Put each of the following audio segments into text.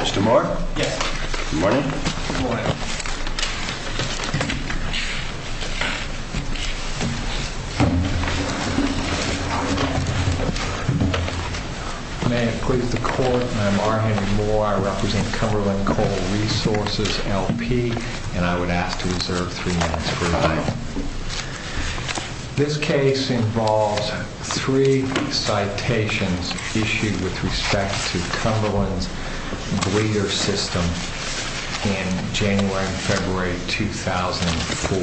Mr. Moore? Yes. Good morning. Good morning. May it please the Court, I'm R. Henry Moore. I represent Cumberland Coal Resources, LP, and I would ask to reserve three minutes for a time. This case involves three citations issued with respect to Cumberland's breeder system in January and February 2004.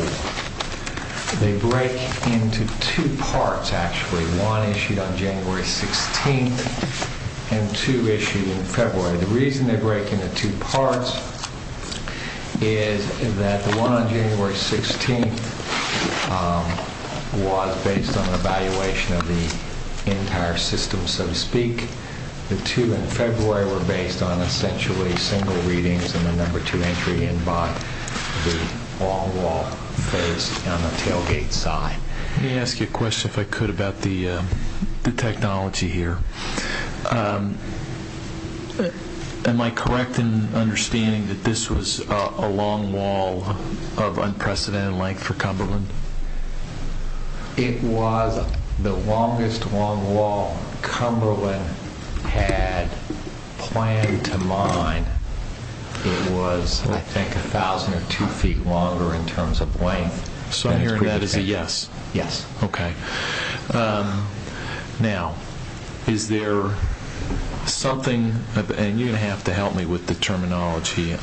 They break into two parts, actually. One issued on January 16th, and two issued in February. The reason they break into two parts is that the one on January 16th was based on an evaluation of the entire system, so to speak. The two in February were based on essentially single readings, and the number two entry in by the long wall phase on the tailgate side. Let me ask you a question, if I could, about the technology here. Am I correct in understanding that this was a long wall of unprecedented length for Cumberland? It was the longest long wall Cumberland had planned to mine. It was, I think, a thousand or two feet longer in terms of length. So I'm hearing that as a yes? Yes. Okay. Now, is there something and you're going to have to help me with the terminology.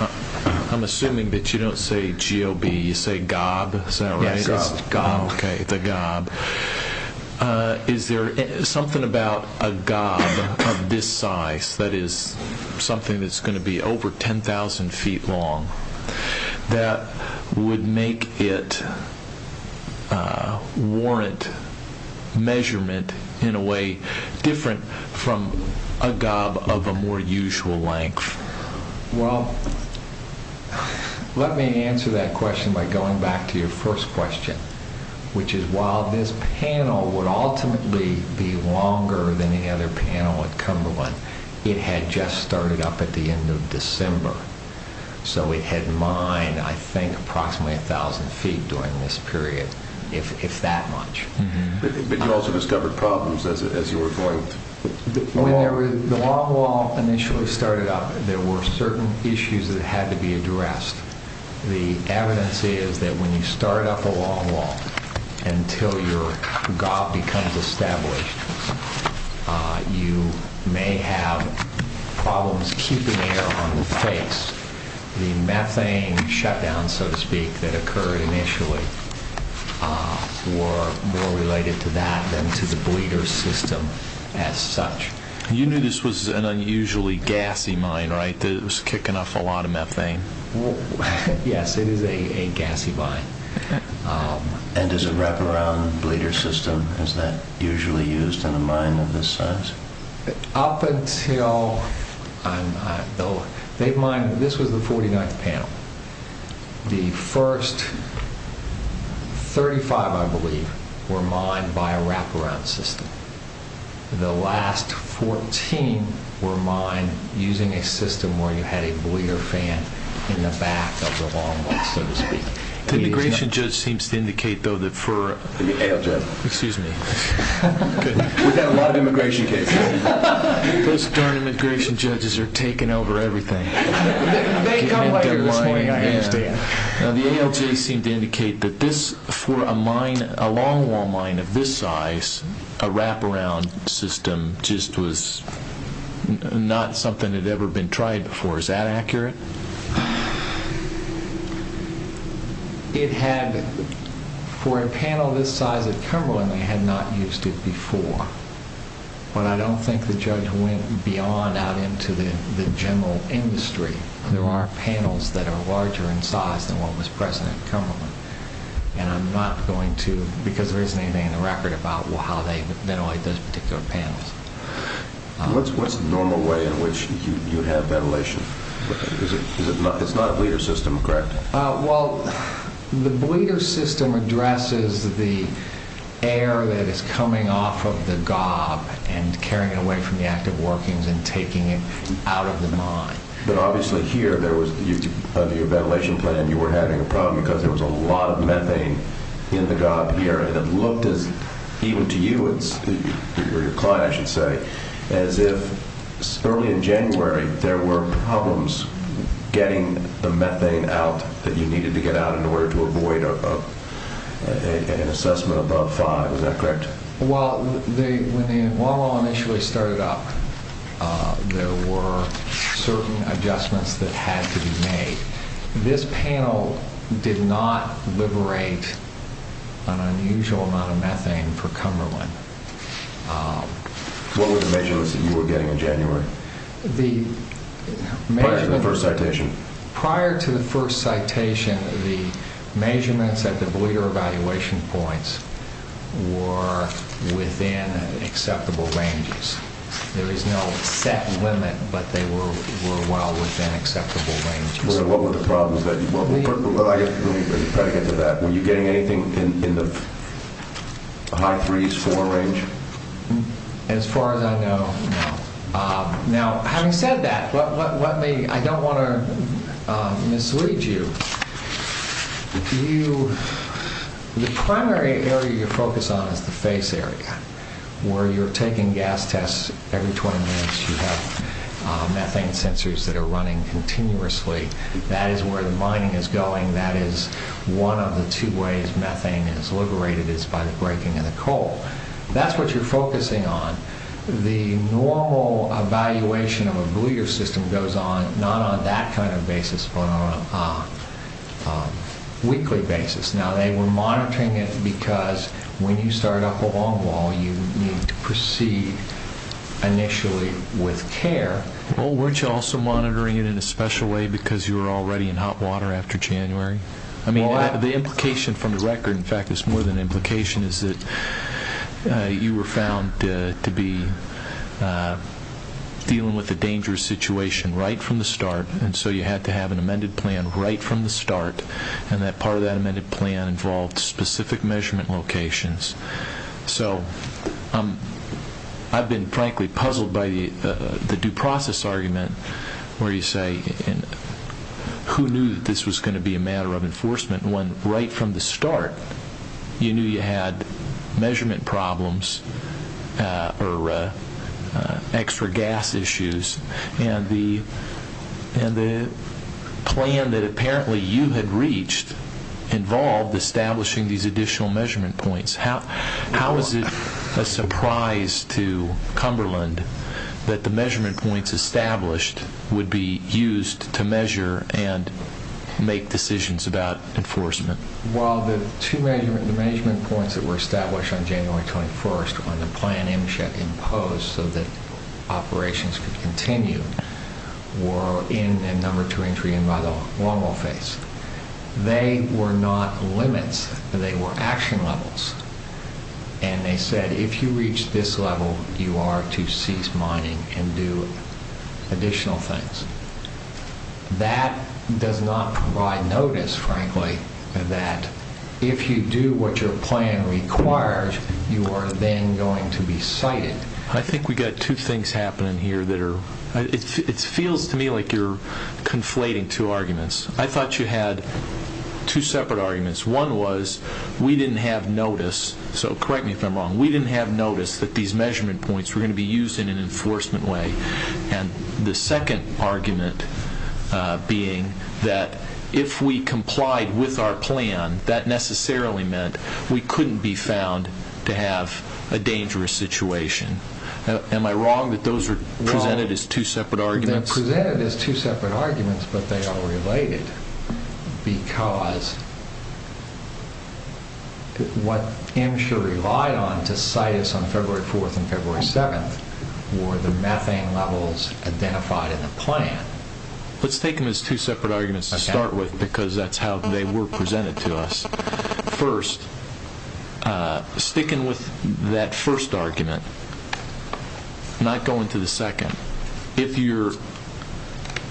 I'm assuming that you don't say GOB, you say gob, is that right? Yes, gob. Okay, the gob. Is there something about a gob of this size, that is, something that's going to be over 10,000 feet long, that would make it warrant measurement in a way different from a gob of a more usual length? Well, let me answer that question by going back to your first question, which is while this panel would ultimately be longer than any other panel at Cumberland, it had just started up at the end of December. So it had mined, I think, approximately a thousand feet during this period, if that much. But you also discovered problems as you were going? The long wall initially started up, there were certain issues that had to be addressed. The evidence is that when you start up a long wall, until your gob becomes established, you may have problems keeping air on the face. The methane shutdowns, so to speak, that occurred initially were more related to that than to the bleeder system as such. You knew this was an unusually gassy mine, right? That it was kicking off a lot of methane? Yes, it is a gassy mine. And does a wraparound bleeder system, is that usually used in a mine of this size? Up until... This was the 49th panel. The first 35, I believe, were mined by a wraparound system. The last 14 were mined using a system where you had a bleeder fan in the back of the long wall, so to speak. The immigration judge seems to indicate, though, that for... Those darn immigration judges are taking over everything. Now the ALJ seemed to indicate that this, for a long wall mine of this size, a wraparound system just was not something that had ever been tried before. Is that accurate? It had, for a panel this size at Cumberland, they had not used it before. But I don't think the judge went beyond out into the general industry. There are panels that are larger in size than what was present at Cumberland. And I'm not going to, because there isn't anything in the record about how they ventilated those particular panels. What's the normal way in which... It's not a bleeder system, correct? Well, the bleeder system addresses the air that is coming off of the gob and carrying it away from the active workings and taking it out of the mine. But obviously here, there was... Under your ventilation plan, you were having a problem because there was a lot of methane in the gob here. It looked as, even to you, or your client, as if early in January, there were problems getting the methane out that you needed to get out in order to avoid an assessment above five. Is that correct? Well, when the wall initially started up, there were certain adjustments that had to be made. This panel did not liberate an unusual amount of methane for Cumberland. What were the measurements that you were getting in January? Prior to the first citation. Prior to the first citation, the measurements at the bleeder evaluation points were within acceptable ranges. There is no set limit, but they were well within acceptable ranges. What were the problems that you were... Let me try to get to that. Were you getting anything in the high threes, four range? As far as I know, no. Now, having said that, I don't want to mislead you. The primary area you're focused on is the that are running continuously. That is where the mining is going. That is one of the two ways methane is liberated is by the breaking of the coal. That's what you're focusing on. The normal evaluation of a bleeder system goes on, not on that kind of basis, but on a weekly basis. Now, they were monitoring it because when you start up a long wall, you need to proceed initially with care. Weren't you also monitoring it in a special way because you were already in hot water after January? The implication from the record, in fact, is more than an implication, is that you were found to be dealing with a dangerous situation right from the start. You had to have an amended plan right from the start. Part of that amended plan involved specific measurement locations. I've been, frankly, puzzled by the due process argument where you say who knew this was going to be a matter of enforcement when right from the start you knew you had measurement problems or extra gas issues. The plan that apparently you had reached involved establishing these additional measurement points. How is it a surprise to Cumberland that the measurement points established would be used to measure and make decisions about enforcement? Well, the two measurement points that were established on January 21st when the plan imposed so that operations could continue were in a number two entry and by the long wall phase. They were not limits. They were action levels. They said if you reach this level, you are to cease mining and do additional things. That does not provide notice, frankly, that if you do what your plan requires, you are then going to be cited. I think we've got two things happening here. It feels to me like you're conflating two arguments. I thought you had two separate arguments. One was we didn't have notice, so correct me if I'm wrong, we didn't have notice that these measurement points were going to be used in an enforcement way. The second argument being that if we complied with our plan, that necessarily meant we couldn't be found to have a dangerous situation. Am I wrong that those are presented as two separate arguments? They're presented as two separate arguments, but they are related because what MSHUR relied on to cite us on February 4th and February 7th were the methane levels identified in the plan. Let's take them as two separate arguments to start with because that's how they were presented to us. First, sticking with that first argument, not going to the second. If you're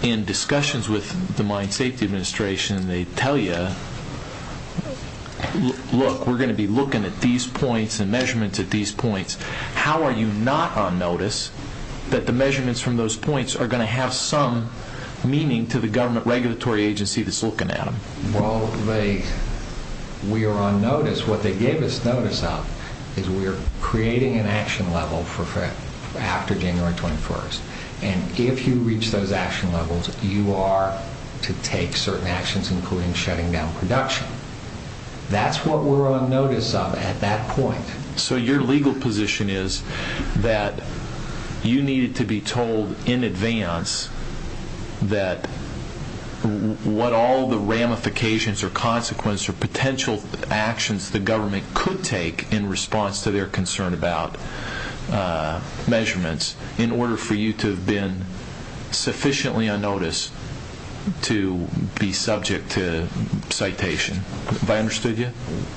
in discussions with the Mine Safety Administration, they tell you, look, we're going to be looking at these points and measurements at these points. How are you not on notice that the measurements from those points are going to have some meaning to the government regulatory agency that's looking at them? Well, we are on notice. What they gave us notice of is we're creating an action level after January 21st, and if you reach those action levels, you are to take certain actions, including shutting down production. That's what we're on notice of at that point. So your legal position is that you needed to be told in advance that what all the ramifications or consequences or potential actions the government could take in response to their concern about measurements in order for you to have been sufficiently on notice to be subject to citation. Have I understood you?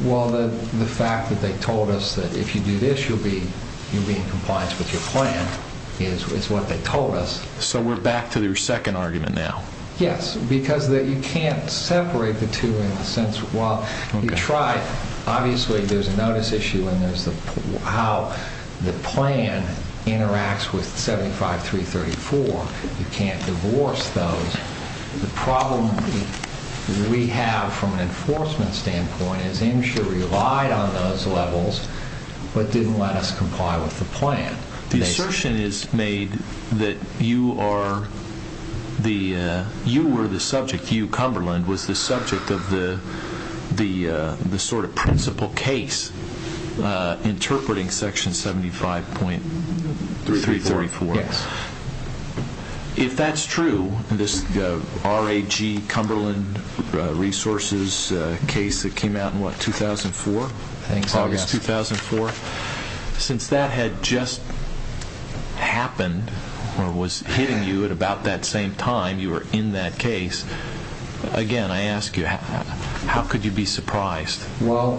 Well, the fact that they told us that if you do this, you'll be in compliance with your plan, is what they told us. So we're back to your second argument now? Yes, because you can't separate the two in the sense while you try. Obviously, there's a notice issue and there's how the plan interacts with 75334. You can't divorce those. The problem we have from an enforcement standpoint is IMSHA relied on those levels but didn't let us comply with the plan. The assertion is made that you were the subject. Hugh Cumberland was the subject of the principal case interpreting section 75.334. If that's true, this R.A.G. Cumberland resources case that came out in August 2004, since that had just happened or was hitting you at about same time, you were in that case. Again, I ask you, how could you be surprised? Well,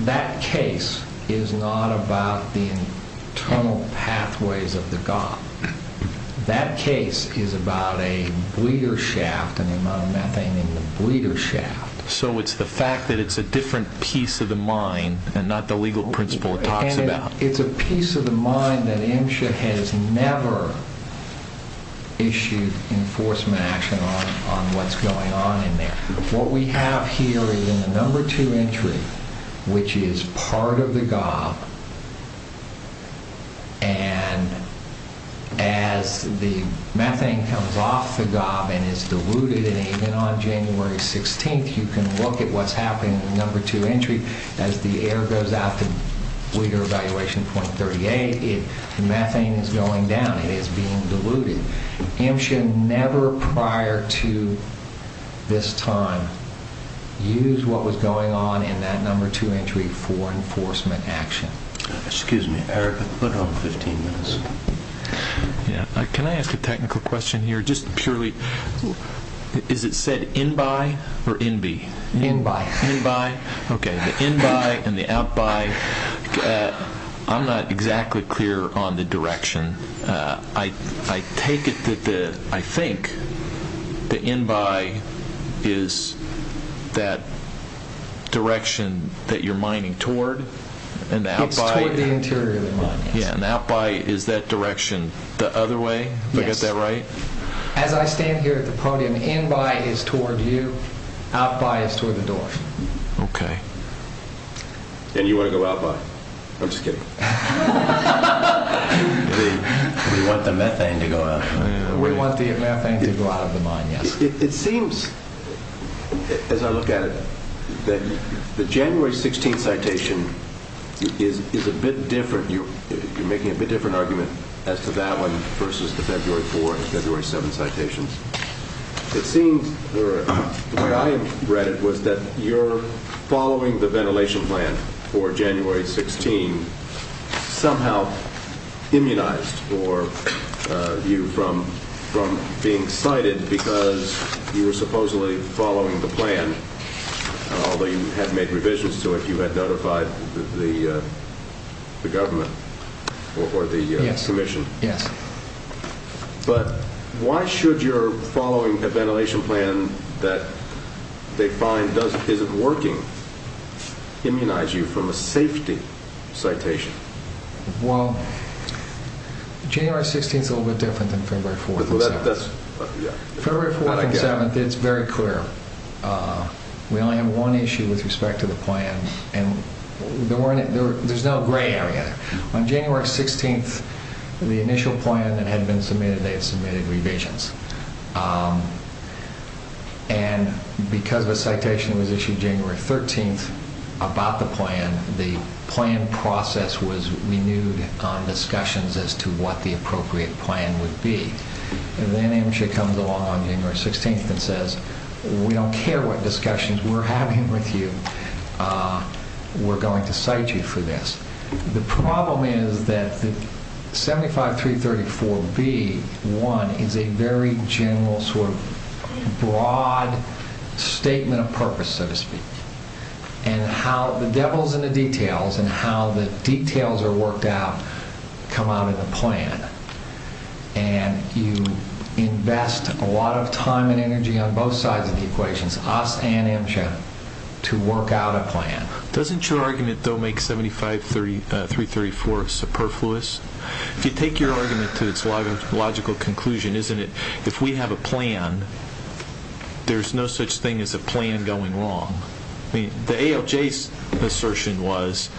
that case is not about the internal pathways of the goth. That case is about a bleeder shaft and the amount of methane in the bleeder shaft. So it's the fact that it's a different piece of the mind and not the legal principle it talks about? It's a piece of the mind that IMSHA has never issued enforcement action on what's going on in there. What we have here is in the number two entry, which is part of the goth and as the methane comes off the goth and is diluted and even on January 16th, you can look at what's at the bleeder evaluation point 38, the methane is going down, it is being diluted. IMSHA never prior to this time used what was going on in that number two entry for enforcement action. Excuse me, Eric, I'll put on 15 minutes. Yeah, can I ask a technical question here? Just purely, is it said in by or in be? In by. Okay, the in by and the out by. I'm not exactly clear on the direction. I take it that the, I think the in by is that direction that you're mining toward? It's toward the interior of the mine, yes. Yeah, and out by is that direction the other way? Have I got that right? As I stand here at the podium, in by is toward you, out by is toward the door. Okay, and you want to go out by? I'm just kidding. We want the methane to go out. We want the methane to go out of the mine, yes. It seems, as I look at it, that the January 16th citation is a bit different. You're making a bit different argument as to that one versus the February 4th and February 7th citations. It seems, the way I read it, was that you're following the ventilation plan for January 16th somehow immunized you from being cited because you were supposedly following the plan, although you had made revisions to it. You had notified the government or the commission. But why should your following a ventilation plan that they find doesn't, isn't working, immunize you from a safety citation? Well, January 16th is a little bit different than February 4th. February 4th and 7th, it's very clear. We only have one issue with respect to the plan, and there's no gray area. On January 16th, the initial plan that had been submitted, they had submitted revisions. And because the citation was issued January 13th about the plan, the plan process was renewed on discussions as to what the appropriate plan would be. Then Amesha comes along on January 16th and says, we don't care what discussions we're having with you. We're going to cite you for this. The problem is that 75334B1 is a very general sort of broad statement of purpose, so to speak. And how the devil's in the details and how the details are important. So, I think it's important to invest a lot of time and energy on both sides of the equations, us and Amesha, to work out a plan. Doesn't your argument, though, make 75334 superfluous? If you take your argument to its logical conclusion, isn't it, if we have a plan, there's no such thing as a plan going wrong. The ALJ's assertion was,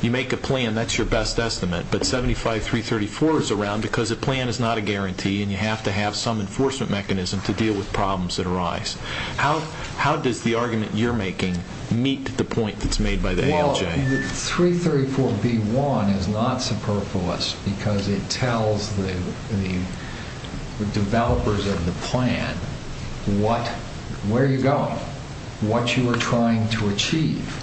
you make a plan, that's your best estimate. But 75334 is around because a plan is not a guarantee and you have to have some enforcement mechanism to deal with problems that arise. How does the argument you're making meet the point that's made by the ALJ? Well, 334B1 is not superfluous because it tells the developers of the plan, where you're going, what you are trying to achieve.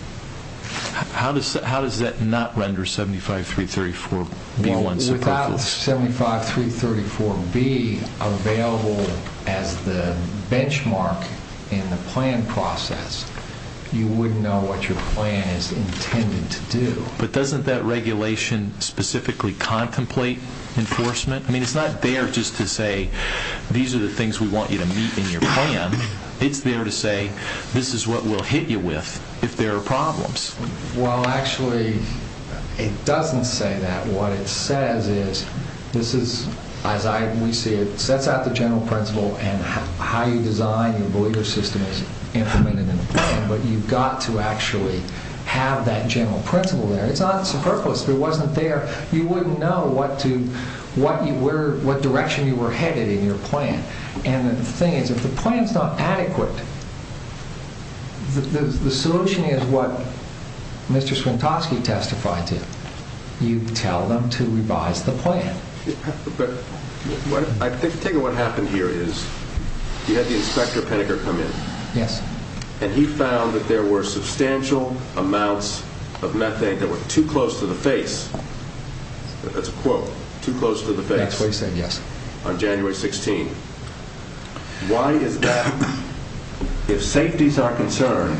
Without 75334B available as the benchmark in the plan process, you wouldn't know what your plan is intended to do. But doesn't that regulation specifically contemplate enforcement? I mean, it's not there just to say, these are the things we want you to meet in your plan. It's there to say, this is what we'll hit you with if there are problems. Well, actually, it doesn't say that. What it says is, this is, as we see it, it sets out the general principle and how you design, you believe your system is implemented in the plan, but you've got to actually have that general principle there. It's not superfluous. If it wasn't there, you wouldn't know what direction you were headed in your plan. And the thing is, if the plan's not adequate, the solution is what Mr. Swintoski testified to. You tell them to revise the plan. But I think what happened here is, you had the Inspector Penninger come in. Yes. And he found that there were substantial amounts of methane that were too close to the face. That's a quote, too close to the face. That's what he said, yes. On January 16th. Why is that? If safety's our concern,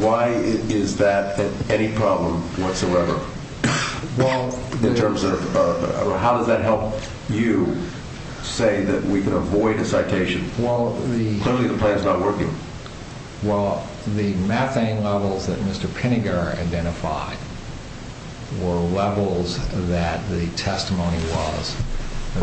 why is that any problem whatsoever? How does that help you say that we can avoid a citation? Clearly, the plan's not working. Well, the methane levels that Mr. Penninger identified were levels that the testimony was.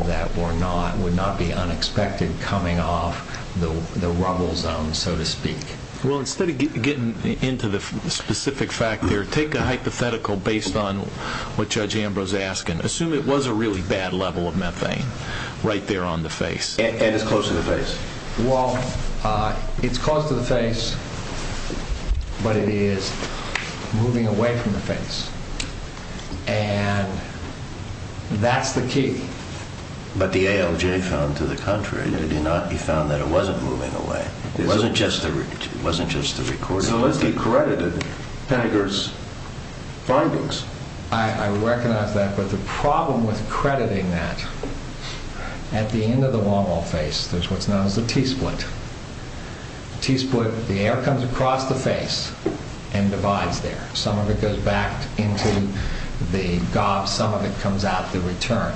That would not be unexpected coming off the rubble zone, so to speak. Well, instead of getting into the specific fact there, take a hypothetical based on what Judge Ambrose is asking. Assume it was a really bad level of methane right there on the face. And it's close to the face. Well, it's close to the face, but it is moving away from the face. And that's the key. But the ALJ found to the contrary, did he not? He found that it wasn't moving away. It wasn't just the recording. So it's decredited Penninger's findings. I recognize that, but the problem with crediting that, at the end of the wall face, there's what's known as a T-split. A T-split, the air comes across the face and divides there. Some of it goes back into the gob, some of it comes out the return.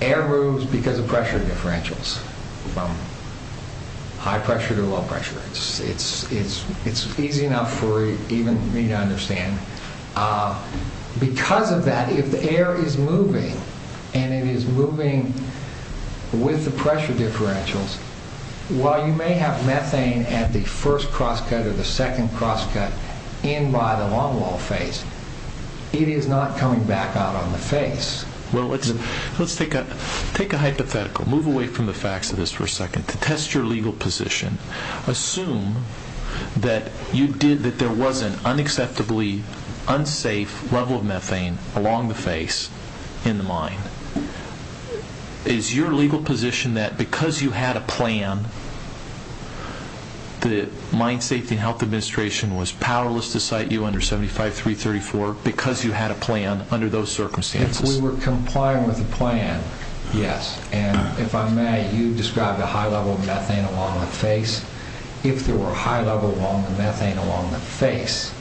Air moves because of pressure differentials from high pressure to low pressure. It's easy enough for even me to understand. Because of that, if the air is moving and it is moving with the pressure differentials, while you may have methane at the first crosscut or the second crosscut in by the long wall face, it is not coming back out on the face. Well, let's take a hypothetical. Move away from the facts of this for a second to test your legal position. Assume that there was an unacceptably unsafe level of methane along the face in the mine. Is your legal position that because you had a plan, the Mine Safety and Health Administration was powerless to cite you under 75334 because you had a plan under those circumstances? If we were complying with the plan, yes. And if I may, you described a high level of methane along the face. If there were a high level of methane along the face,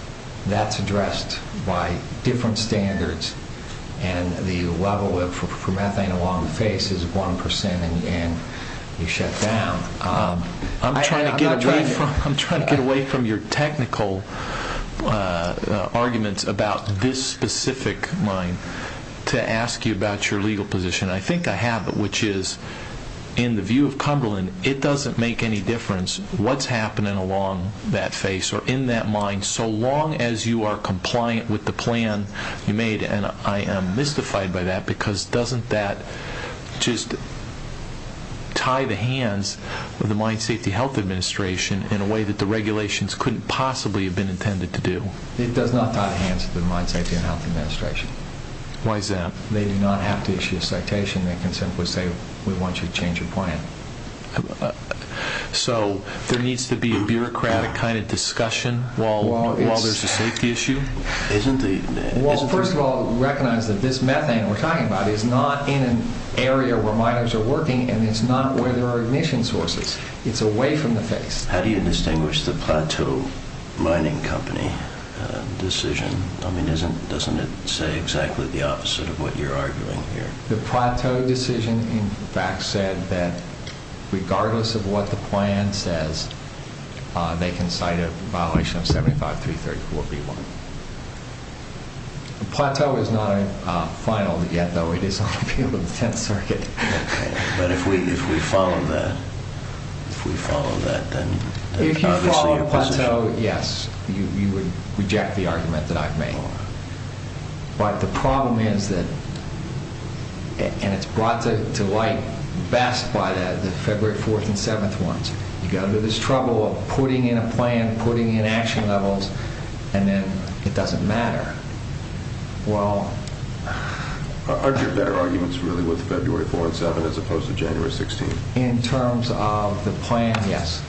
that's addressed by different standards. And the level of methane along the face is 1% and you shut down. I'm trying to get away from your technical arguments about this specific mine to ask you about your legal position. I think I have it, which is in the view of Cumberland, it doesn't make any difference what's happening along that face or in that mine so long as you are compliant with the plan you made. And I am mystified by that because doesn't that just tie the hands of the Mine Safety and Health Administration in a way that the regulations couldn't possibly have been intended to do? It does not tie the hands of the Mine Safety and Health Administration. Why is that? They do not have to issue a citation. They can simply say, we want you to change your plan. So, there needs to be a bureaucratic kind of discussion while there's a safety issue? Well, first of all, recognize that this methane we're talking about is not in an area where miners are working and it's not where there are ignition sources. It's away from the face. How do you distinguish the Plateau Mining Company decision? I mean, doesn't it say exactly the opposite of what you're arguing here? The Plateau decision, in fact, said that regardless of what the plan says, they can cite a violation of 75334B1. Plateau is not final yet, though. It is on the field of the 10th Circuit. But if we follow that, if we follow that, then it's obviously your position. Yes, you would reject the argument that I've made. But the problem is that, and it's brought to light best by the February 4th and 7th ones. You've got to do this trouble of putting in a plan, putting in action levels, and then it doesn't matter. Are there better arguments, really, with February 4th and 7th as opposed to January 16th? In terms of the plan, yes.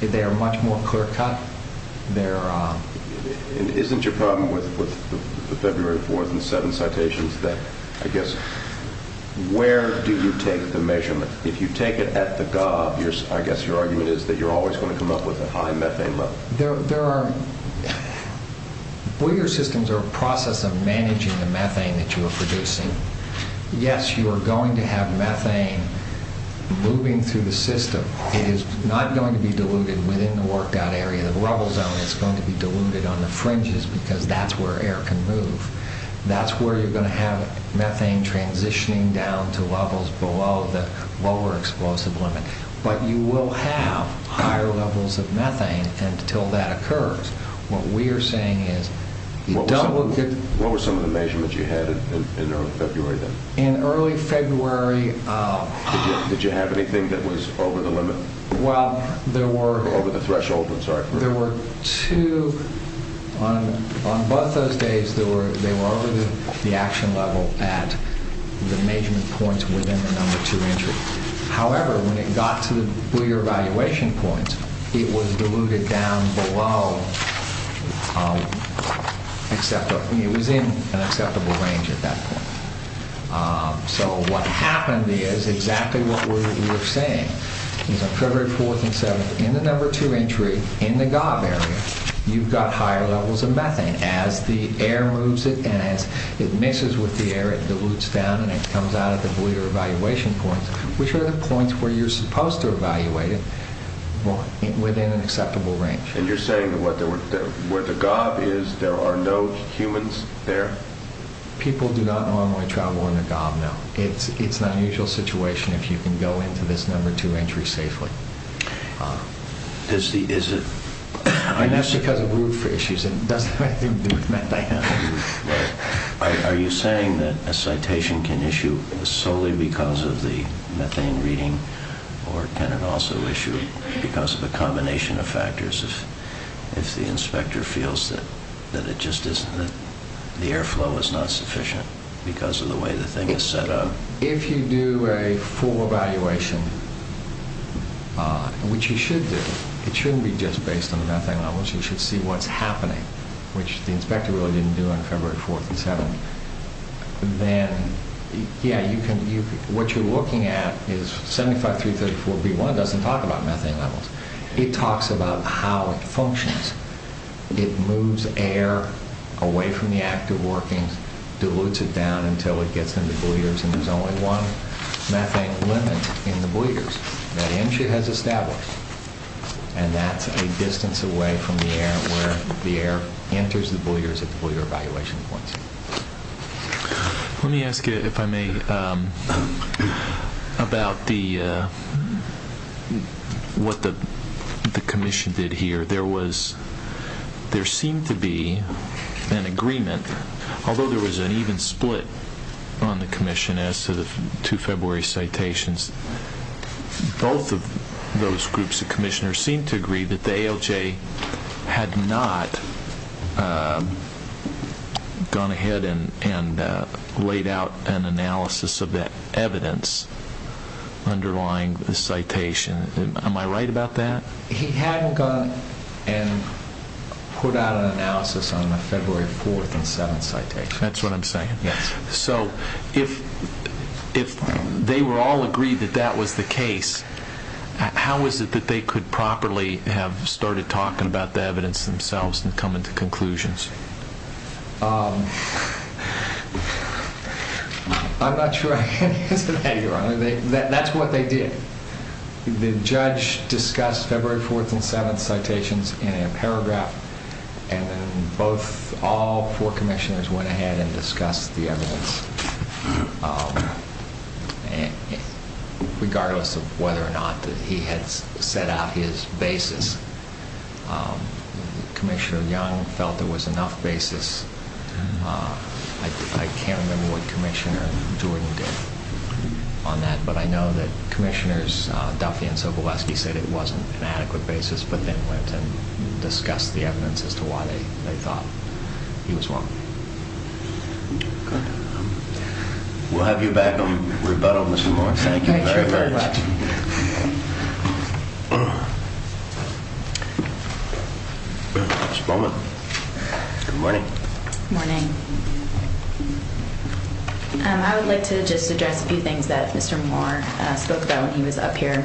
They are much more clear-cut. And isn't your problem with the February 4th and 7th citations that, I guess, where do you take the measurement? If you take it at the gob, I guess your argument is that you're always going to come up with a high methane level. There are... Boiler systems are a process of managing the methane that you are producing. Yes, you are going to have methane moving through the system. It is not going to be diluted within the worked-out area of the rubble zone. It's going to be diluted on the fringes because that's where air can move. That's where you're going to have methane transitioning down to levels below the lower explosive limit. But you will have higher levels of methane until that occurs. What we are saying is... What were some of the measurements you had in early February then? In early February... Did you have anything that was over the limit? Well, there were... Over the threshold, I'm sorry. There were two... On both those days, they were over the action level at the measurement points within the number two entry. However, when it got to the Boiler evaluation points, it was diluted down below acceptable. It was in an acceptable range at that point. So, what happened is exactly what we were saying. It was on February 4th and 7th. In the number two entry, in the GOB area, you've got higher levels of methane. As the air moves it and as it mixes with the air, it dilutes down and it comes out at the Boiler evaluation points, which are the points where you're supposed to evaluate it within an acceptable range. And you're saying where the GOB is, there are no humans there? People do not normally travel in a GOB now. It's an unusual situation if you can go into this number two entry safely. And that's because of route for issues. It doesn't have anything to do with methane. Are you saying that a citation can issue solely because of the methane reading, or can it also issue because of a combination of factors? If the inspector feels that the airflow is not sufficient because of the way the thing is set up? If you do a full evaluation, which you should do, it shouldn't be just based on methane levels. You should see what's happening, which the inspector really didn't do on February 4th and 7th. Then, yeah, what you're looking at is 75334B1 doesn't talk about methane levels. It talks about how it functions. It moves air away from the active workings, dilutes it down until it gets into the boulevards, and there's only one methane limit in the boulevards. That entry has established, and that's a distance away from the air where the air enters the boulevards at the boulevard evaluation points. Let me ask you, if I may, about what the commission did here. There seemed to be an agreement, although there was an even split on the commission as to the two February citations. Both of those groups of commissioners seemed to agree that the ALJ had not gone ahead and laid out an analysis of the evidence underlying the citation. Am I right about that? He hadn't gone and put out an analysis on the February 4th and 7th citation. That's what I'm saying. So if they were all agreed that that was the case, how is it that they could properly have started talking about the evidence themselves and come into conclusions? I'm not sure I can answer that, Your Honor. That's what they did. The judge discussed February 4th and 7th citations in a paragraph, and then all four commissioners went ahead and discussed the evidence, regardless of whether or not he had set out his basis. Commissioner Young felt there was enough basis. I can't remember what Commissioner Jordan did on that, but I know that commissioners Duffy and Sobolewski said it wasn't an adequate basis, but then went and discussed the evidence as to why they thought he was wrong. Good. We'll have you back on rebuttal, Mr. Moore. Thank you very much. Thank you very, very much. Just a moment. Good morning. Good morning. I would like to just address a few things that Mr. Moore spoke about when he was up here.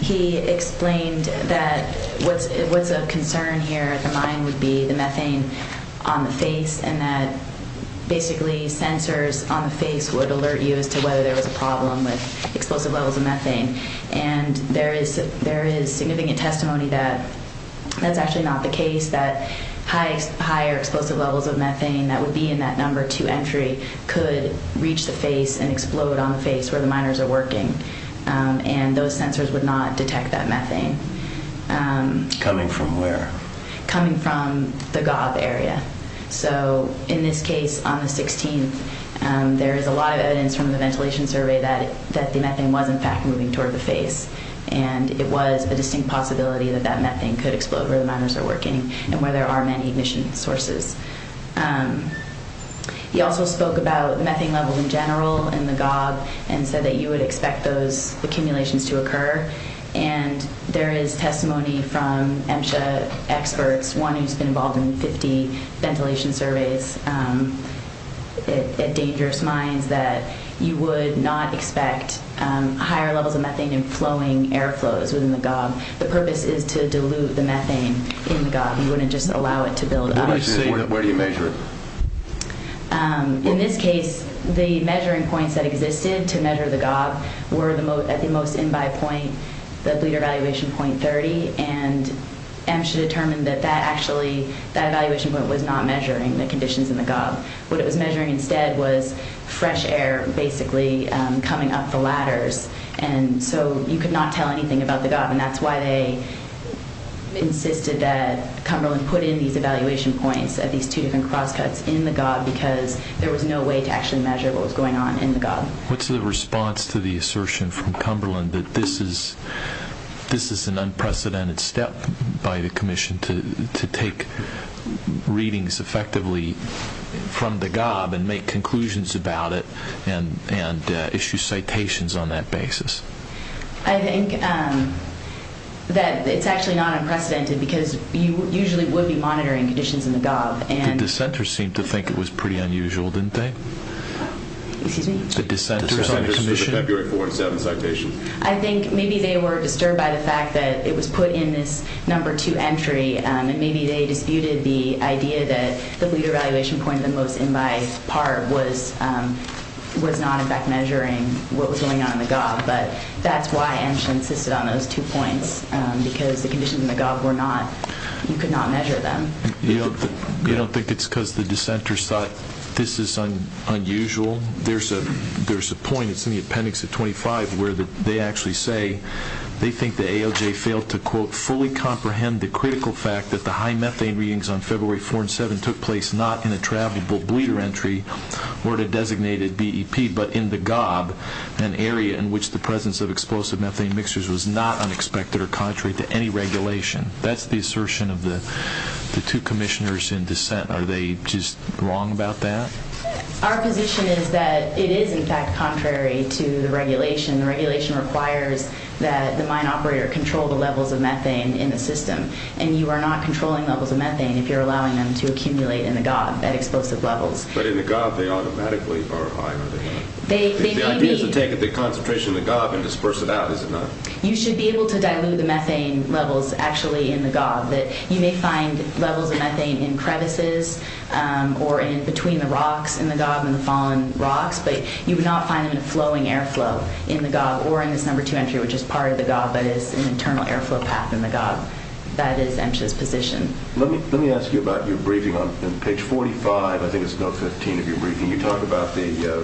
He explained that what's of concern here at the mine would be the methane on the face and that basically sensors on the face would alert you as to whether there was a problem with explosive levels of methane. And there is significant testimony that that's actually not the case, that higher explosive levels of methane that would be in that number two entry could reach the face and explode on the face where the miners are working, and those sensors would not detect that methane. Coming from where? Coming from the gob area. So, in this case, on the 16th, there is a lot of evidence from the ventilation survey that the methane was in fact moving toward the face, and it was a distinct possibility that that methane could explode where the miners are working and where there are many emission sources. He also spoke about methane levels in general in the gob and said that you would expect those accumulations to occur. And there is testimony from EMSHA experts, one who's been involved in 50 ventilation surveys at dangerous mines, that you would not expect higher levels of methane and flowing air flows within the gob. The purpose is to dilute the methane in the gob. You wouldn't just allow it to build up. Did he say where do you measure it? In this case, the measuring points that existed to measure the gob were at the most in-by point, the bleeder evaluation point 30, and EMSHA determined that actually that evaluation point was not measuring the conditions in the gob. What it was measuring instead was fresh air basically coming up the ladders, and so you could not tell anything about the gob. And that's why they insisted that Cumberland put in these evaluation points at these two different cross-cuts in the gob, because there was no way to actually measure what was going on in the gob. What's the response to the assertion from Cumberland that this is an unprecedented step by the commission to take readings effectively from the gob and make conclusions about it and issue citations on that basis? I think that it's actually not unprecedented, because you usually would be monitoring conditions in the gob. The dissenters seemed to think it was pretty unusual, didn't they? Excuse me? The dissenters on the commission? The dissenters for the February 4 and 7 citation. I think maybe they were disturbed by the fact that it was put in this number two entry, and maybe they disputed the idea that the bleeder evaluation point at the most in-by part was not in fact measuring what was going on in the gob. But that's why EMSHA insisted on those two points, because the conditions in the gob were not, you could not measure them. You don't think it's because the dissenters thought this is unusual? There's a point, it's in the appendix of 25, where they actually say they think the AOJ failed to, quote, fully comprehend the critical fact that the high methane readings on February 4 and 7 took place not in a travelable bleeder entry or the designated BEP, but in the gob, an area in which the presence of explosive methane mixtures was not unexpected or contrary to any regulation. That's the assertion of the two commissioners in dissent. Are they just wrong about that? Our position is that it is in fact contrary to the regulation. The regulation requires that the mine operator control the levels of methane in the system, and you are not controlling levels of methane if you're allowing them to accumulate in the gob at explosive levels. But in the gob, they automatically are high, are they not? They may be. The idea is to take the concentration in the gob and disperse it out, is it not? You should be able to dilute the methane levels actually in the gob. You may find levels of methane in crevices or between the rocks in the gob and the fallen rocks, but you would not find them in a flowing airflow in the gob or in this number two entry, which is part of the gob, but is an internal airflow path in the gob. That is MSHA's position. Let me ask you about your briefing on page 45. I think it's note 15 of your briefing. You talk about the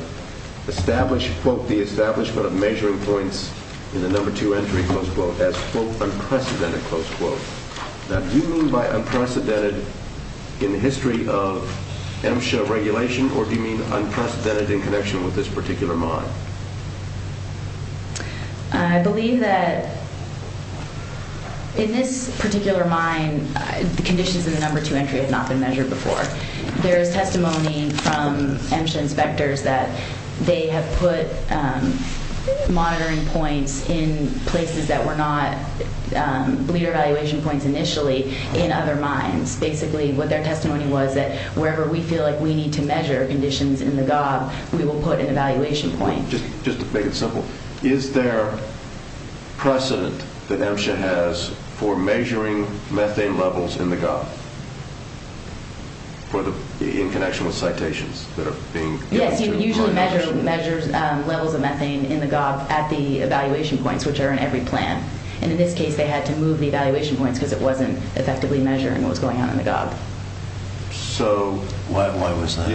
established, quote, the establishment of measuring points in the number two entry, close quote, as, quote, unprecedented, close quote. Now, do you mean by unprecedented in the history of MSHA regulation, or do you mean unprecedented in connection with this particular mine? I believe that in this particular mine, the conditions in the number two entry have not been measured before. There is testimony from MSHA inspectors that they have put monitoring points in places that were not bleeder evaluation points initially in other mines. Basically, what their testimony was that wherever we feel like we need to measure conditions in the gob, we will put an evaluation point. Just to make it simple, is there precedent that MSHA has for measuring methane levels in the gob in connection with citations that are being given? Yes, you would usually measure levels of methane in the gob at the evaluation points, which is what they measure in every plan. In this case, they had to move the evaluation points because it wasn't effectively measuring what was going on in the gob. So why wasn't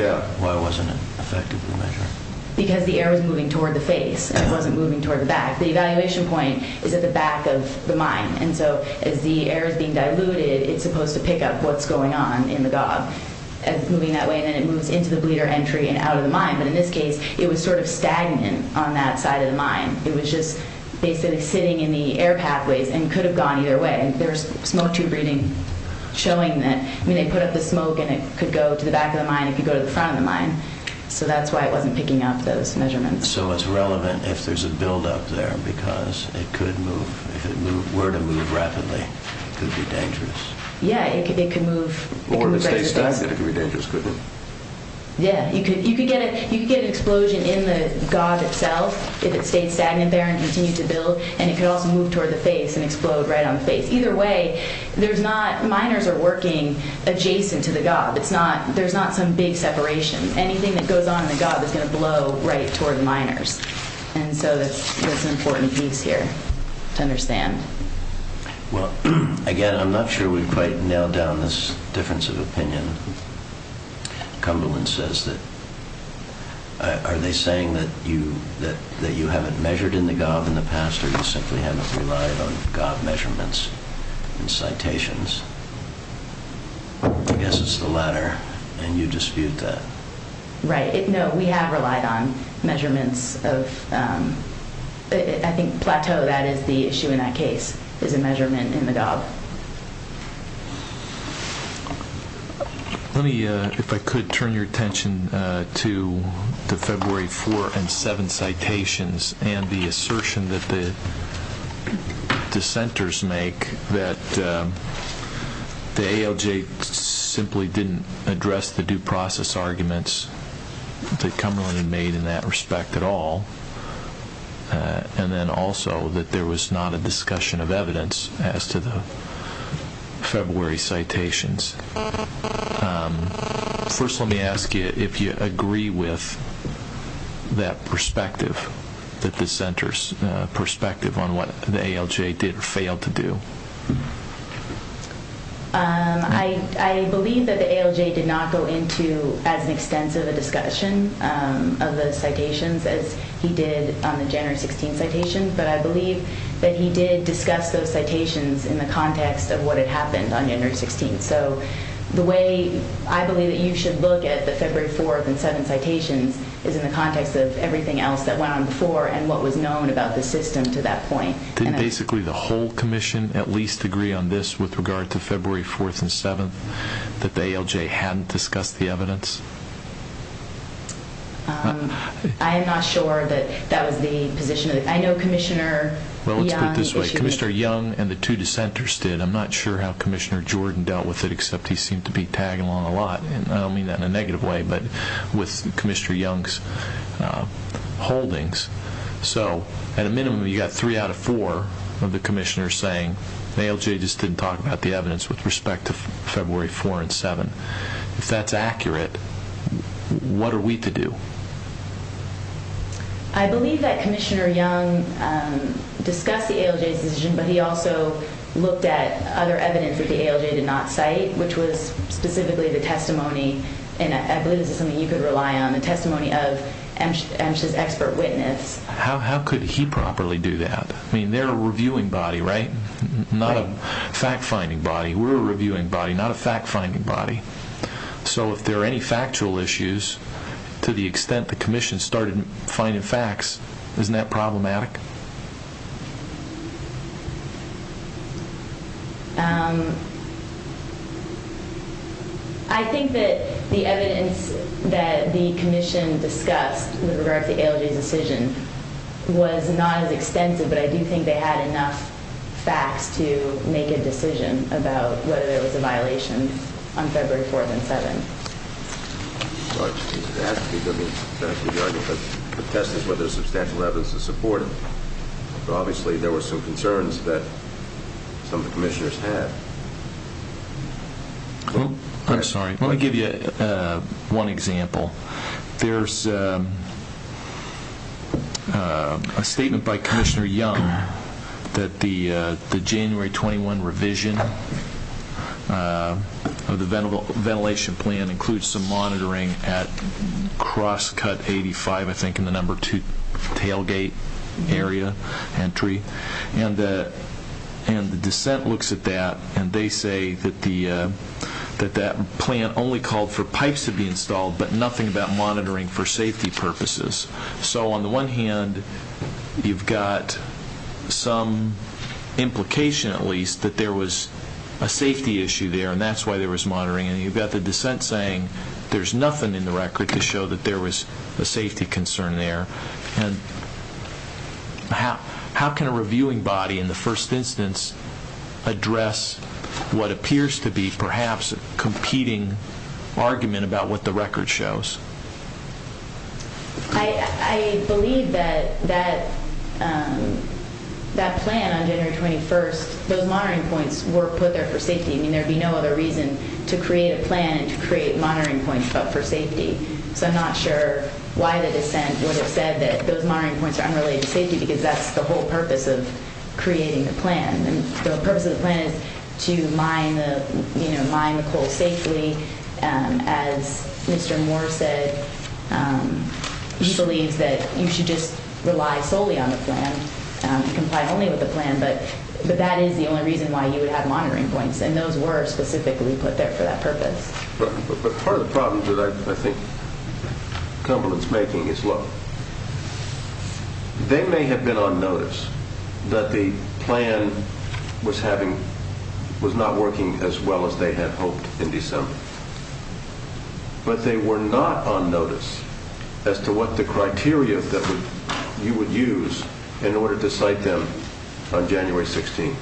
it effectively measured? Because the air was moving toward the face, and it wasn't moving toward the back. The evaluation point is at the back of the mine, and so as the air is being diluted, it's supposed to pick up what's going on in the gob as moving that way, and then it moves into the bleeder entry and out of the mine. It was just basically sitting in the air pathways and could have gone either way. There's smoke tube reading showing that. I mean, they put up the smoke, and it could go to the back of the mine. It could go to the front of the mine. So that's why it wasn't picking up those measurements. So it's relevant if there's a buildup there because it could move. If it were to move rapidly, it could be dangerous. Yeah, it could move. Or if it stays static, it could be dangerous, couldn't it? Yeah, you could get an explosion in the gob itself. If it stayed stagnant there and continued to build, and it could also move toward the face and explode right on the face. Either way, miners are working adjacent to the gob. There's not some big separation. Anything that goes on in the gob is going to blow right toward the miners. And so that's an important piece here to understand. Well, again, I'm not sure we've quite nailed down this difference of opinion. Cumberland says that, are they saying that you haven't measured in the gob in the past, or you simply haven't relied on gob measurements and citations? I guess it's the latter, and you dispute that. Right. No, we have relied on measurements of, I think plateau, that is the issue in that case, is a measurement in the gob. Let me, if I could, turn your attention to the February 4 and 7 citations and the assertion that the dissenters make that the ALJ simply didn't address the due process arguments that Cumberland had made in that respect at all, and then also that there was not a discussion of evidence as to the February citations. First, let me ask you if you agree with that perspective, that the dissenter's perspective on what the ALJ did or failed to do. I believe that the ALJ did not go into as extensive a discussion of the citations as he did on the January 16 citation, but I believe that he did discuss those citations in the context of what had happened on January 16. The way I believe that you should look at the February 4 and 7 citations is in the context of everything else that went on before and what was known about the system to that point. Didn't basically the whole commission at least agree on this with regard to February 4 and 7, that the ALJ hadn't discussed the evidence? I am not sure that that was the position. I know Commissioner Young issued this. Commissioner Young and the two dissenters did. I'm not sure how Commissioner Jordan dealt with it, except he seemed to be tagging along a lot, and I don't mean that in a negative way, but with Commissioner Young's holdings. At a minimum, you got three out of four of the commissioners saying the ALJ just didn't talk about the evidence with respect to February 4 and 7. If that's accurate, what are we to do? I believe that Commissioner Young discussed the ALJ's decision, but he also looked at other evidence that the ALJ did not cite, which was specifically the testimony, and I believe this is something you could rely on, the testimony of MSHA's expert witness. How could he properly do that? I mean, they're a reviewing body, right? Not a fact-finding body. We're a reviewing body, not a fact-finding body. So if there are any factual issues, to the extent the commission started finding facts, isn't that problematic? I think that the evidence that the commission discussed with regard to the ALJ's decision was not as extensive, but I do think they had enough facts to make a decision about whether there was a violation on February 4th and 7th. The test is whether substantial evidence is supported, but obviously there were some concerns that some of the commissioners had. I'm sorry. Let me give you one example. There's a statement by Commissioner Young that the January 21 revision of the ventilation plan includes some monitoring at crosscut 85, I think in the number 2 tailgate area entry, and the dissent looks at that and they say that that plan only called for pipes to be used, and they're talking about monitoring for safety purposes. So on the one hand, you've got some implication at least that there was a safety issue there, and that's why there was monitoring, and you've got the dissent saying there's nothing in the record to show that there was a safety concern there. How can a reviewing body in the first instance address what appears to be perhaps a competing argument about what the record shows? I believe that that plan on January 21st, those monitoring points were put there for safety. I mean, there'd be no other reason to create a plan to create monitoring points, but for safety. So I'm not sure why the dissent would have said that those monitoring points are unrelated to safety, because that's the whole purpose of creating the plan. The purpose of the plan is to mine the coal safely. As Mr. Moore said, he believes that you should just rely solely on the plan and comply only with the plan, but that is the only reason why you would have monitoring points, and those were specifically put there for that purpose. But part of the problem that I think Cumberland's making is, look, they may have been on notice that the plan was having, was not working as well as they had hoped in December, but they were not on notice as to what the criteria that you would use in order to cite them on January 16th.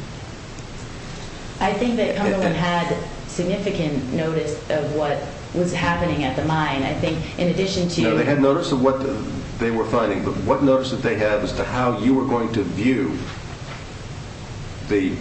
I think that Cumberland had significant notice of what was happening at the mine. I think in addition to... No, they had notice of what they were finding, but what notice that they had as to how you were going to view the,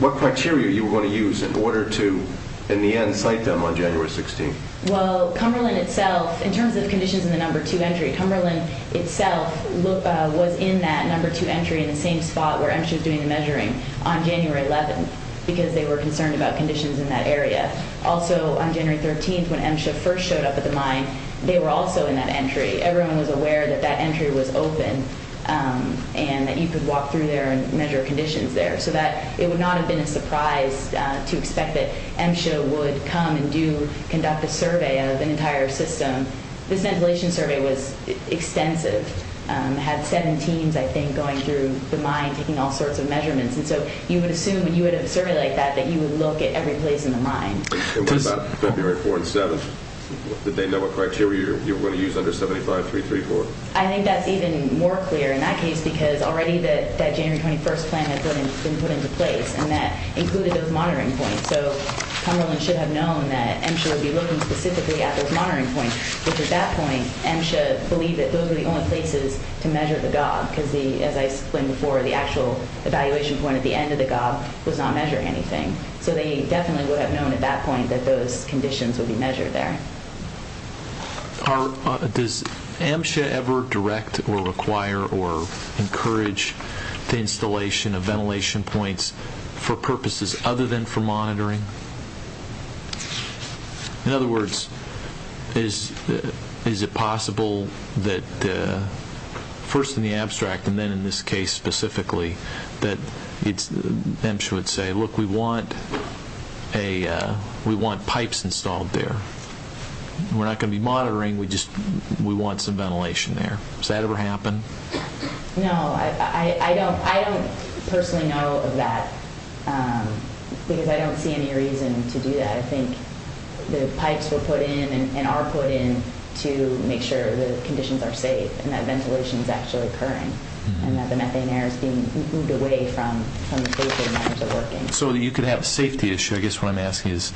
what criteria you were going to use in order to, in the end, cite them on January 16th. Well, Cumberland itself, in terms of conditions in the number two entry, Cumberland itself was in that number two entry in the same spot where MSHA was doing the measuring on January 11th, because they were concerned about conditions in that area. Also, on January 13th, when MSHA first showed up at the mine, they were also in that entry. Everyone was aware that that entry was open and that you could walk through there and measure conditions there, so that it would not have been a surprise to expect that MSHA would come and do, conduct a survey of an entire system. This ventilation survey was extensive, had seven teams, I think, going through the mine, taking all sorts of measurements, and so you would assume when you would have a survey like that, that you would look at every place in the mine. And what about February 4th and 7th? Did they know what criteria you were going to use under 75334? I think that's even more clear in that case, because already that January 21st plan had been put into place, and that included those monitoring points. So Cumberland should have known that MSHA would be looking specifically at those monitoring points, which, at that point, MSHA believed that those were the only places to measure the gob, because, as I explained before, the actual evaluation point at the end of the gob was not measuring anything. Does MSHA ever direct, or require, or encourage the installation of ventilation points for purposes other than for monitoring? In other words, is it possible that, first in the abstract, and then in this case specifically, that MSHA would say, look, we want pipes installed there. We're not going to be monitoring, we just want some ventilation there. Does that ever happen? No, I don't personally know of that, because I don't see any reason to do that. I think the pipes were put in, and are put in, to make sure the conditions are safe, and that ventilation is actually occurring, and that the methane air is being moved away from the patient in terms of working. So you could have a safety issue, I guess what I'm asking is,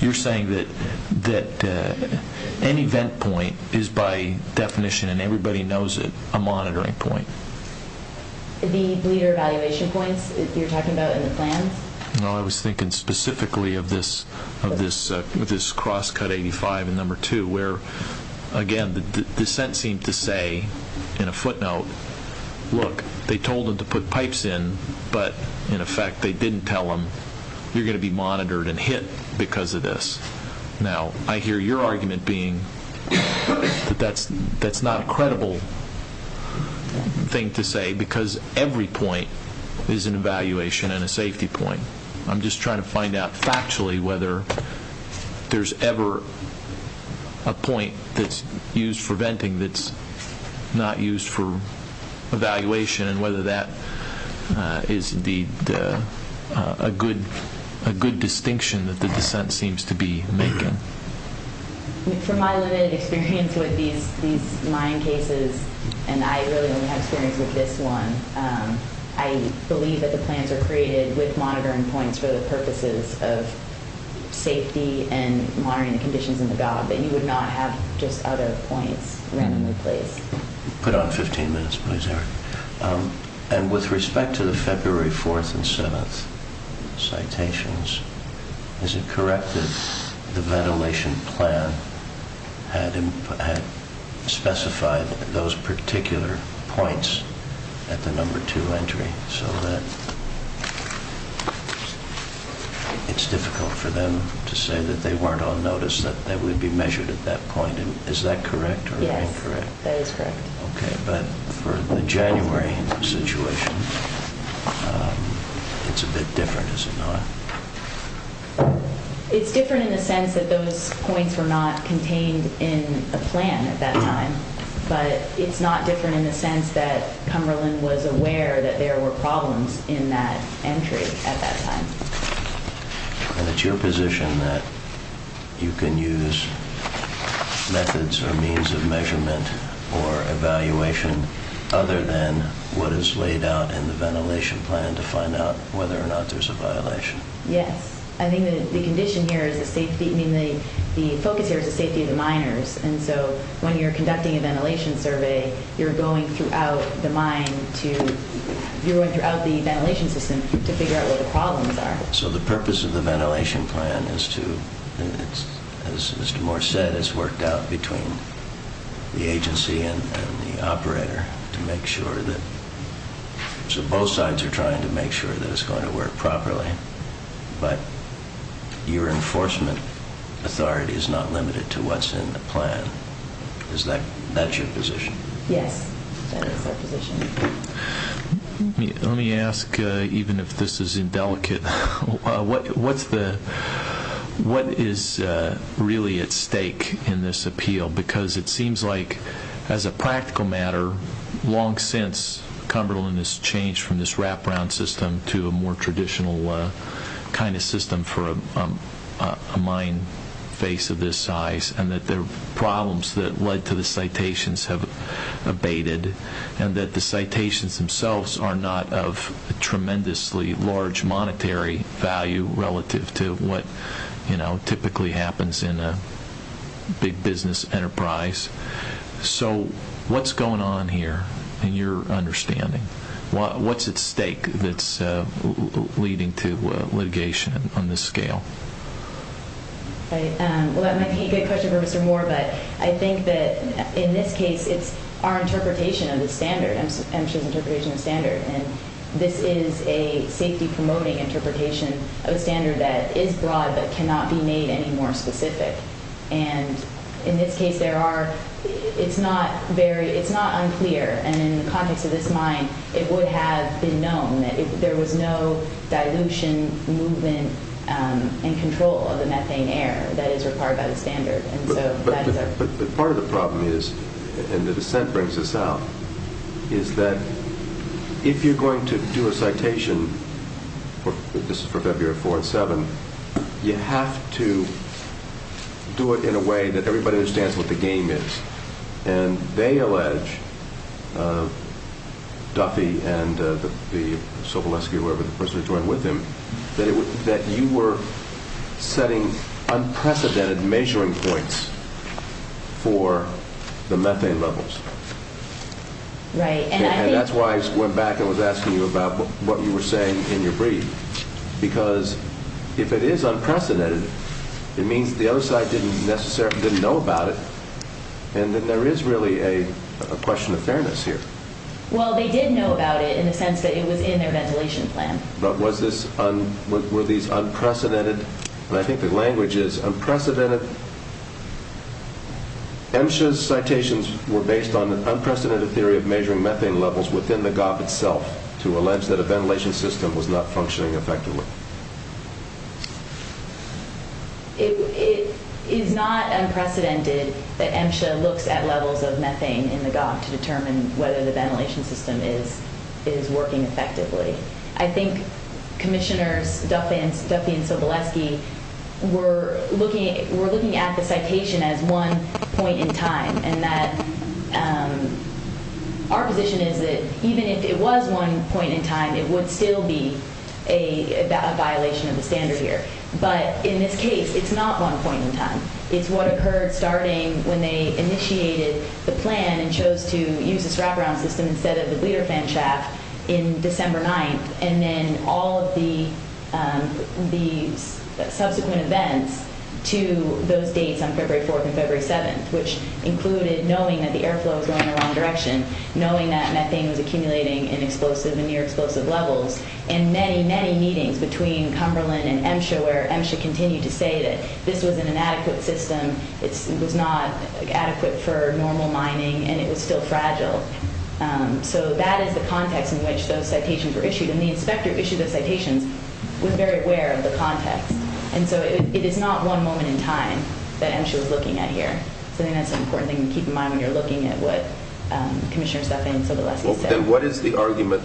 you're saying that any vent point is, by definition, and everybody knows it, a monitoring point? The bleeder evaluation points you're talking about in the plans? No, I was thinking specifically of this crosscut 85 and number 2, where, again, the descent seemed to say, in a footnote, look, they told them to put pipes in, but, in effect, they didn't tell them, you're going to be monitored and hit because of this. Now, I hear your argument being that that's not a credible thing to say, because every point is an evaluation and a safety point. I'm just trying to find out factually whether there's ever a point that's used for venting that's not used for evaluation, and whether that is, indeed, a good distinction that the descent seems to be making. From my limited experience with these mine cases, and I really only have experience with this one, I believe that the plans are created with monitoring points for the purposes of safety and monitoring the conditions in the gob, and you would not have just other points randomly placed. Put on 15 minutes, please, Eric. And with respect to the February 4th and 7th citations, is it correct that the ventilation plan had specified those particular points at the number 2 entry, so that it's difficult for them to say that they weren't on notice, that they would be measured at that point? Is that correct? Yes, that is correct. Okay, but for the January situation, it's a bit different, is it not? It's different in the sense that those points were not contained in a plan at that time, but it's not different in the sense that Cumberland was aware that there were problems in that entry at that time. And it's your position that you can use methods or means of measurement or evaluation other than what is laid out in the ventilation plan to find out whether or not there's a violation? Yes. I think the condition here is the safety, I mean, the focus here is the safety of the miners, and so when you're conducting a ventilation survey, you're going throughout the mine to, you're going throughout the ventilation system to figure out what the problems are. So the purpose of the ventilation plan is to, as Mr. Moore said, it's worked out between the agency and the operator to make sure that, so both sides are trying to make sure that it's going to work properly, but your enforcement authority is not limited to what's in the plan, is that, that's your position? Yes, that is our position. Let me ask, even if this is indelicate, what's the, what is really at stake in this appeal? Because it seems like, as a practical matter, long since Cumberland has changed from this wraparound system to a more traditional kind of system for a mine face of this size, and that there are problems that led to the citations have abated, and that the citations themselves are not of a tremendously large monetary value relative to what, you know, typically happens in a big business enterprise. So what's going on here, in your understanding? What's at stake that's leading to litigation on this scale? Well, that might be a good question for Mr. Moore, but I think that in this case, it's our interpretation of the standard, MSHA's interpretation of the standard, and this is a safety-promoting interpretation of a standard that is broad but cannot be made any more specific, and in this case, there are, it's not very, it's not unclear, and in the context of this mine, it would have been known that there was no dilution, movement, and control of the methane air that is required by the standard, and so that is our... But part of the problem is, and the dissent brings this out, is that if you're going to do a citation, this is for February 4 and 7, you have to do it in a way that everybody understands what the game is, and they allege, Duffy and the Sobolewski, whoever, the person that joined with him, that you were setting unprecedented measuring points for the methane levels. Right, and I think... And that's why I went back and was asking you about what you were saying in your brief, because if it is unprecedented, it means the other side didn't necessarily, didn't know about it, and then there is really a question of fairness here. Well, they did know about it in the sense that it was in their ventilation plan. But was this, were these unprecedented, and I think the language is unprecedented... MSHA's citations were based on an unprecedented theory of measuring methane levels within the GOP itself to allege that a ventilation system was not functioning effectively. It is not unprecedented that MSHA looks at levels of methane in the GOP to determine whether the ventilation system is working effectively. I think Commissioners Duffy and Sobolewski were looking at the citation as one point in time, and that our position is that even if it was one point in time, it would still be a violation of the standard here. But in this case, it's not one point in time. It's what occurred starting when they initiated the plan and chose to use this wraparound system instead of the leader fan shaft in December 9th, and then all of the subsequent events to those dates on February 4th and February 7th, which included knowing that the airflow was going in the wrong direction, knowing that methane was accumulating in explosive and near-explosive levels, and many, many meetings between Cumberland and MSHA where MSHA continued to say that this was an inadequate system, it was not adequate for normal mining, and it was still fragile. So that is the context in which those citations were issued. And the inspector who issued the citations was very aware of the context. And so it is not one moment in time that MSHA was looking at here. So I think that's an important thing to keep in mind when you're looking at what Commissioner Steffen and Sotolowski said. Then what is the argument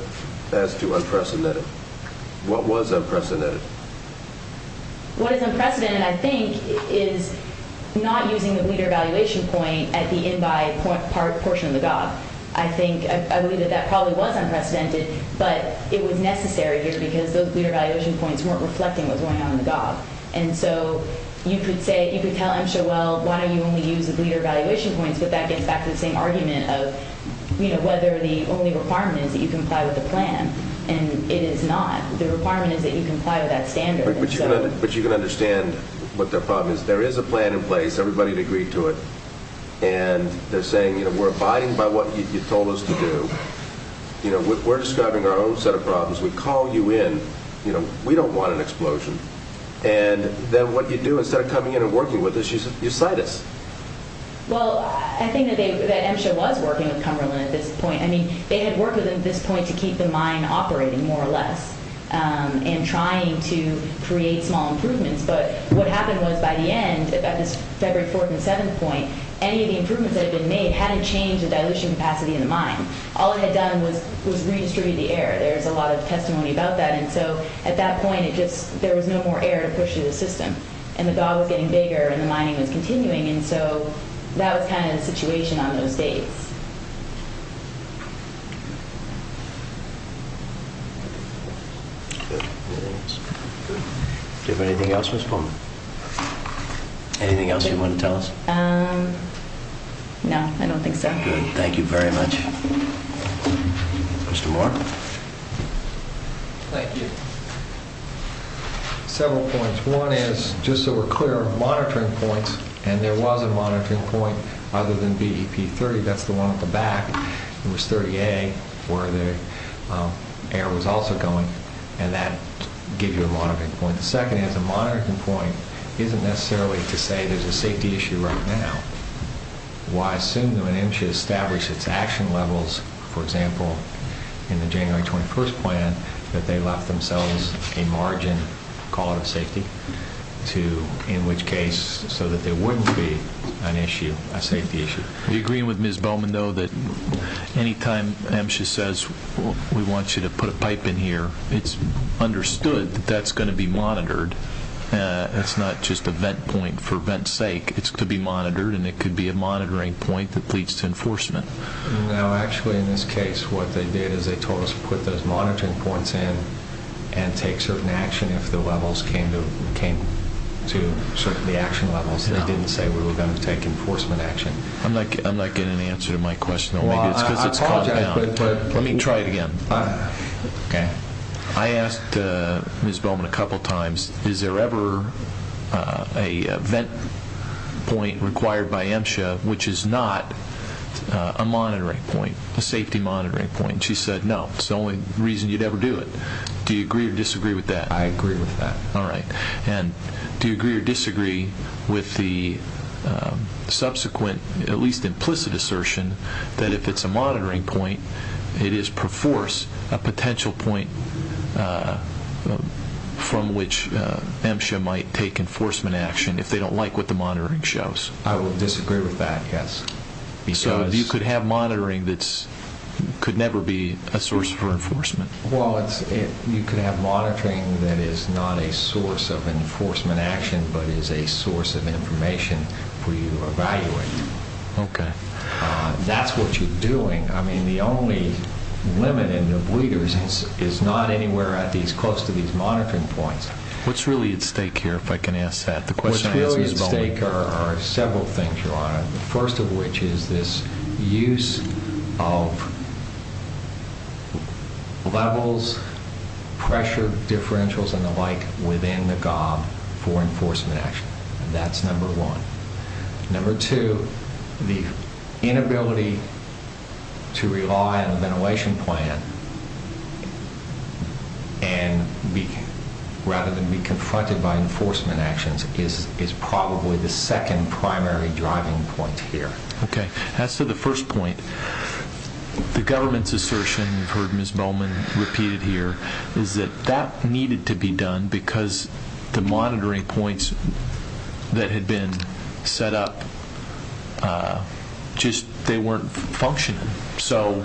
as to unprecedented? What was unprecedented? What is unprecedented, I think, is not using the leader evaluation point at the in-by portion of the GOG. I think, I believe that that probably was unprecedented, but it was necessary here because those leader evaluation points weren't reflecting what was going on in the GOG. And so you could say, you could tell MSHA, well, why don't you only use the leader evaluation points, but that gets back to the same argument of, you know, whether the only requirement is that you comply with the plan. And it is not. The requirement is that you comply with that standard. But you can understand what their problem is. There is a plan in place. Everybody had agreed to it. And they're saying, you know, we're abiding by what you told us to do. You know, we're describing our own set of problems. We call you in, you know, we don't want an explosion. And then what you do, instead of coming in and working with us, you cite us. Well, I think that MSHA was working with Cumberland at this point. I mean, they had worked with them at this point to keep the mine operating, more or less, and trying to create small improvements. But what happened was, by the end, at this February 4th and 7th point, any of the improvements that had been made hadn't changed the dilution capacity in the mine. All it had done was redistribute the air. There's a lot of testimony about that. And so, at that point, it just, there was no more air to push through the system. And the dog was getting bigger and the mining was continuing. And so, that was kind of the situation on those days. Do you have anything else, Ms. Pullman? Anything else you want to tell us? No, I don't think so. Good. Thank you very much. Mr. Moore. Thank you. Several points. One is, just so we're clear, monitoring points. And there was a monitoring point other than BEP-30. That's the one at the back. It was 30A where the air was also going. And that gives you a monitoring point. The second is, a monitoring point isn't necessarily to say there's a safety issue right now. Why assume that when MSHA established its action levels, for example, in the January 21st plan, that they left themselves a margin call out of safety to, in which case, so that there wouldn't be an issue, a safety issue. Do you agree with Ms. Bowman, though, that anytime MSHA says, we want you to put a pipe in here, it's understood that that's going to be monitored. It's not just a vent point for vent's sake. It's to be monitored, and it could be a monitoring point that leads to enforcement. No, actually, in this case, what they did is they told us to put those monitoring points in and take certain action if the levels came to certain, the action levels. They didn't say we were going to take enforcement action. I'm not getting an answer to my question, though. Maybe it's because it's calmed down. Let me try it again. I asked Ms. Bowman a couple times, is there ever a vent point required by MSHA which is not a monitoring point, a safety monitoring point? She said no. It's the only reason you'd ever do it. Do you agree or disagree with that? I agree with that. All right. And do you agree or disagree with the subsequent, at least implicit, assertion that if it's a monitoring point, it is per force a potential point from which MSHA might take enforcement action if they don't like what the monitoring shows? I would disagree with that, yes. So you could have monitoring that could never be a source for enforcement? Well, you could have monitoring that is not a source of enforcement action, but is a source of information for you to evaluate. Okay. That's what you're doing. The only limit in the bleeders is not anywhere close to these monitoring points. What's really at stake here, if I can ask that? The question I asked Ms. Bowman. What's really at stake are several things, Your Honor. The first of which is this use of levels, pressure, differentials, and the like within the GOB for enforcement action. That's number one. Number two, the inability to rely on a ventilation plan and rather than be confronted by enforcement actions is probably the second primary driving point here. Okay. As to the first point, the government's assertion, you've heard Ms. Bowman repeat it here, is that that needed to be done because the monitoring points that had been set up, just, they weren't functioning. So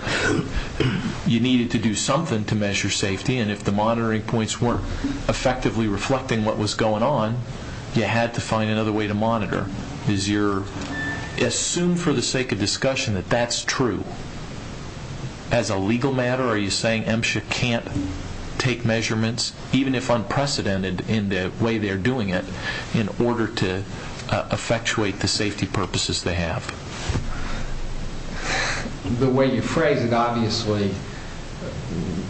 you needed to do something to measure safety, and if the monitoring points weren't effectively reflecting what was going on, you had to find another way to monitor. Assume for the sake of discussion that that's true. So as a legal matter, are you saying MSHA can't take measurements, even if unprecedented in the way they're doing it, in order to effectuate the safety purposes they have? The way you phrase it, obviously,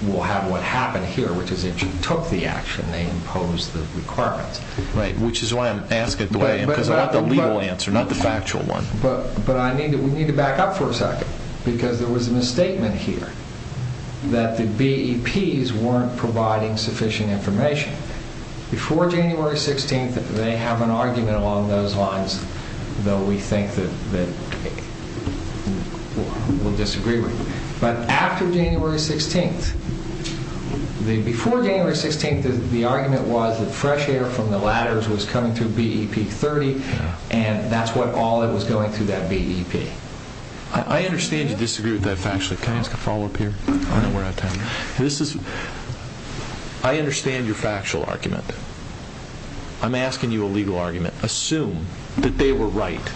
we'll have what happened here, which is MSHA took the action. They imposed the requirements. Right, which is why I'm asking it the way I am, because I want the legal answer, not the factual one. But we need to back up for a second, because there was a misstatement here that the BEPs weren't providing sufficient information. Before January 16th, they have an argument along those lines, though we think that we'll disagree with. But after January 16th, before January 16th, the argument was that fresh air from the ladders was coming through BEP-30, and that's what all that was going through that BEP. I understand you disagree with that factually. Can I ask a follow-up here? I understand your factual argument. I'm asking you a legal argument. Assume that they were right,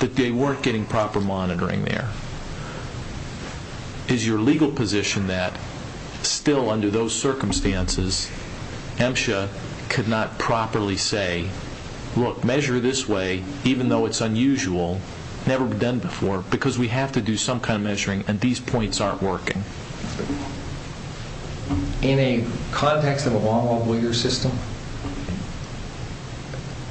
that they weren't getting proper monitoring there. Is your legal position that, still under those circumstances, MSHA could not properly say, look, measure this way, even though it's unusual, never been done before, because we have to do some kind of measuring, and these points aren't working? In a context of a long-law breeder system,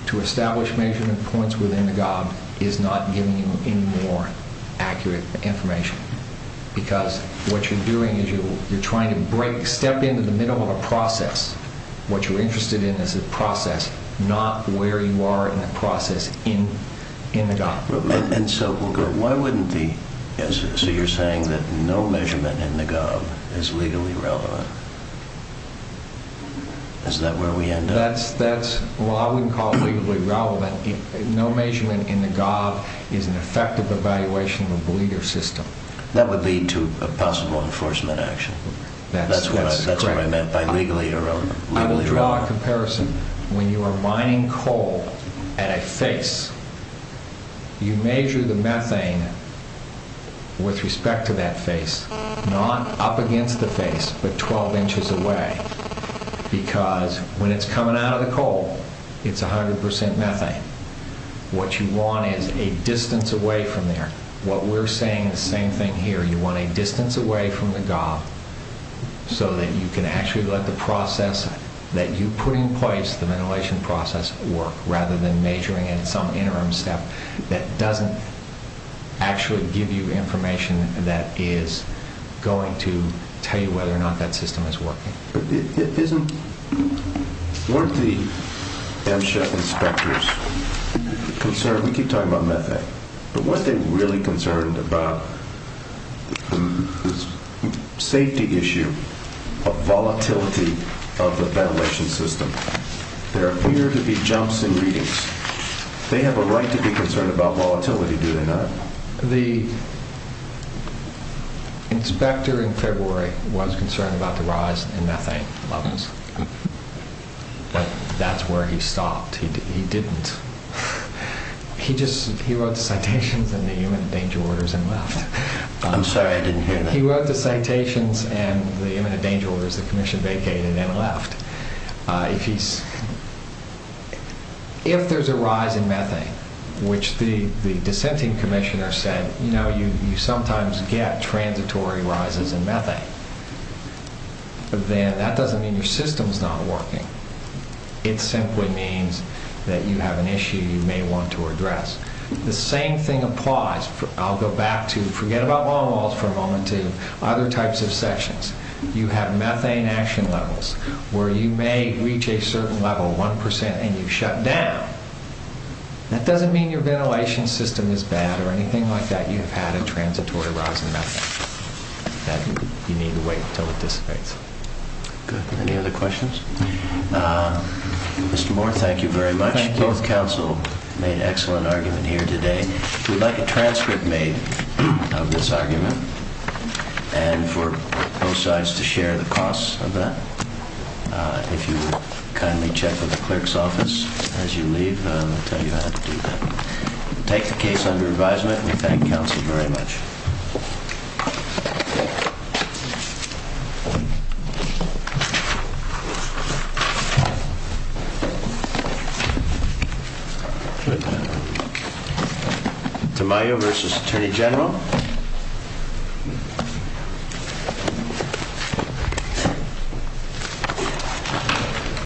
to establish measurement points within the gob is not giving you any more accurate information, because what you're doing is you're trying to break, step into the middle of a process. What you're interested in is the process, not where you are in the process in the gob. So you're saying that no measurement in the gob is legally relevant? Is that where we end up? Well, I wouldn't call it legally relevant. No measurement in the gob is an effective evaluation of a breeder system. That would lead to a possible enforcement action. That's what I meant by legally irrelevant. I will draw a comparison. When you are mining coal at a face, you measure the methane with respect to that face, not up against the face, but 12 inches away, because when it's coming out of the coal, it's 100% methane. What you want is a distance away from there. What we're saying, the same thing here, you want a distance away from the gob, so that you can actually let the process that you put in place, the ventilation process, work, rather than measuring in some interim step that doesn't actually give you information that is going to tell you whether or not that system is working. Weren't the MSHEF inspectors concerned? We keep talking about methane, but were they really concerned about the safety issue of volatility of the ventilation system? There appear to be jumps in readings. They have a right to be concerned about volatility, do they not? The inspector in February was concerned about the rise in methane levels, but that's where he stopped. He didn't. He wrote the citations and the imminent danger orders and left. I'm sorry, I didn't hear that. He wrote the citations and the imminent danger orders, the commission vacated and left. If there's a rise in methane, which the dissenting commissioner said, you know, you sometimes get transitory rises in methane, then that doesn't mean your system's not working. It simply means that you have an issue you may want to address. The same thing applies. I'll go back to, forget about long walls for a moment, to other types of sections. You have methane action levels where you may reach a certain level, one percent, and you shut down. That doesn't mean your ventilation system is bad or anything like that. You have had a transitory rise in methane. That you need to wait until it dissipates. Good. Any other questions? Uh, Mr. Moore, thank you very much. Both counsel made excellent argument here today. We'd like a transcript made of this argument and for both sides to share the costs of that. If you would kindly check with the clerk's office as you leave, I'll tell you how to do that. Take the case under advisement. We thank counsel very much. Good. Tamayo versus Attorney General.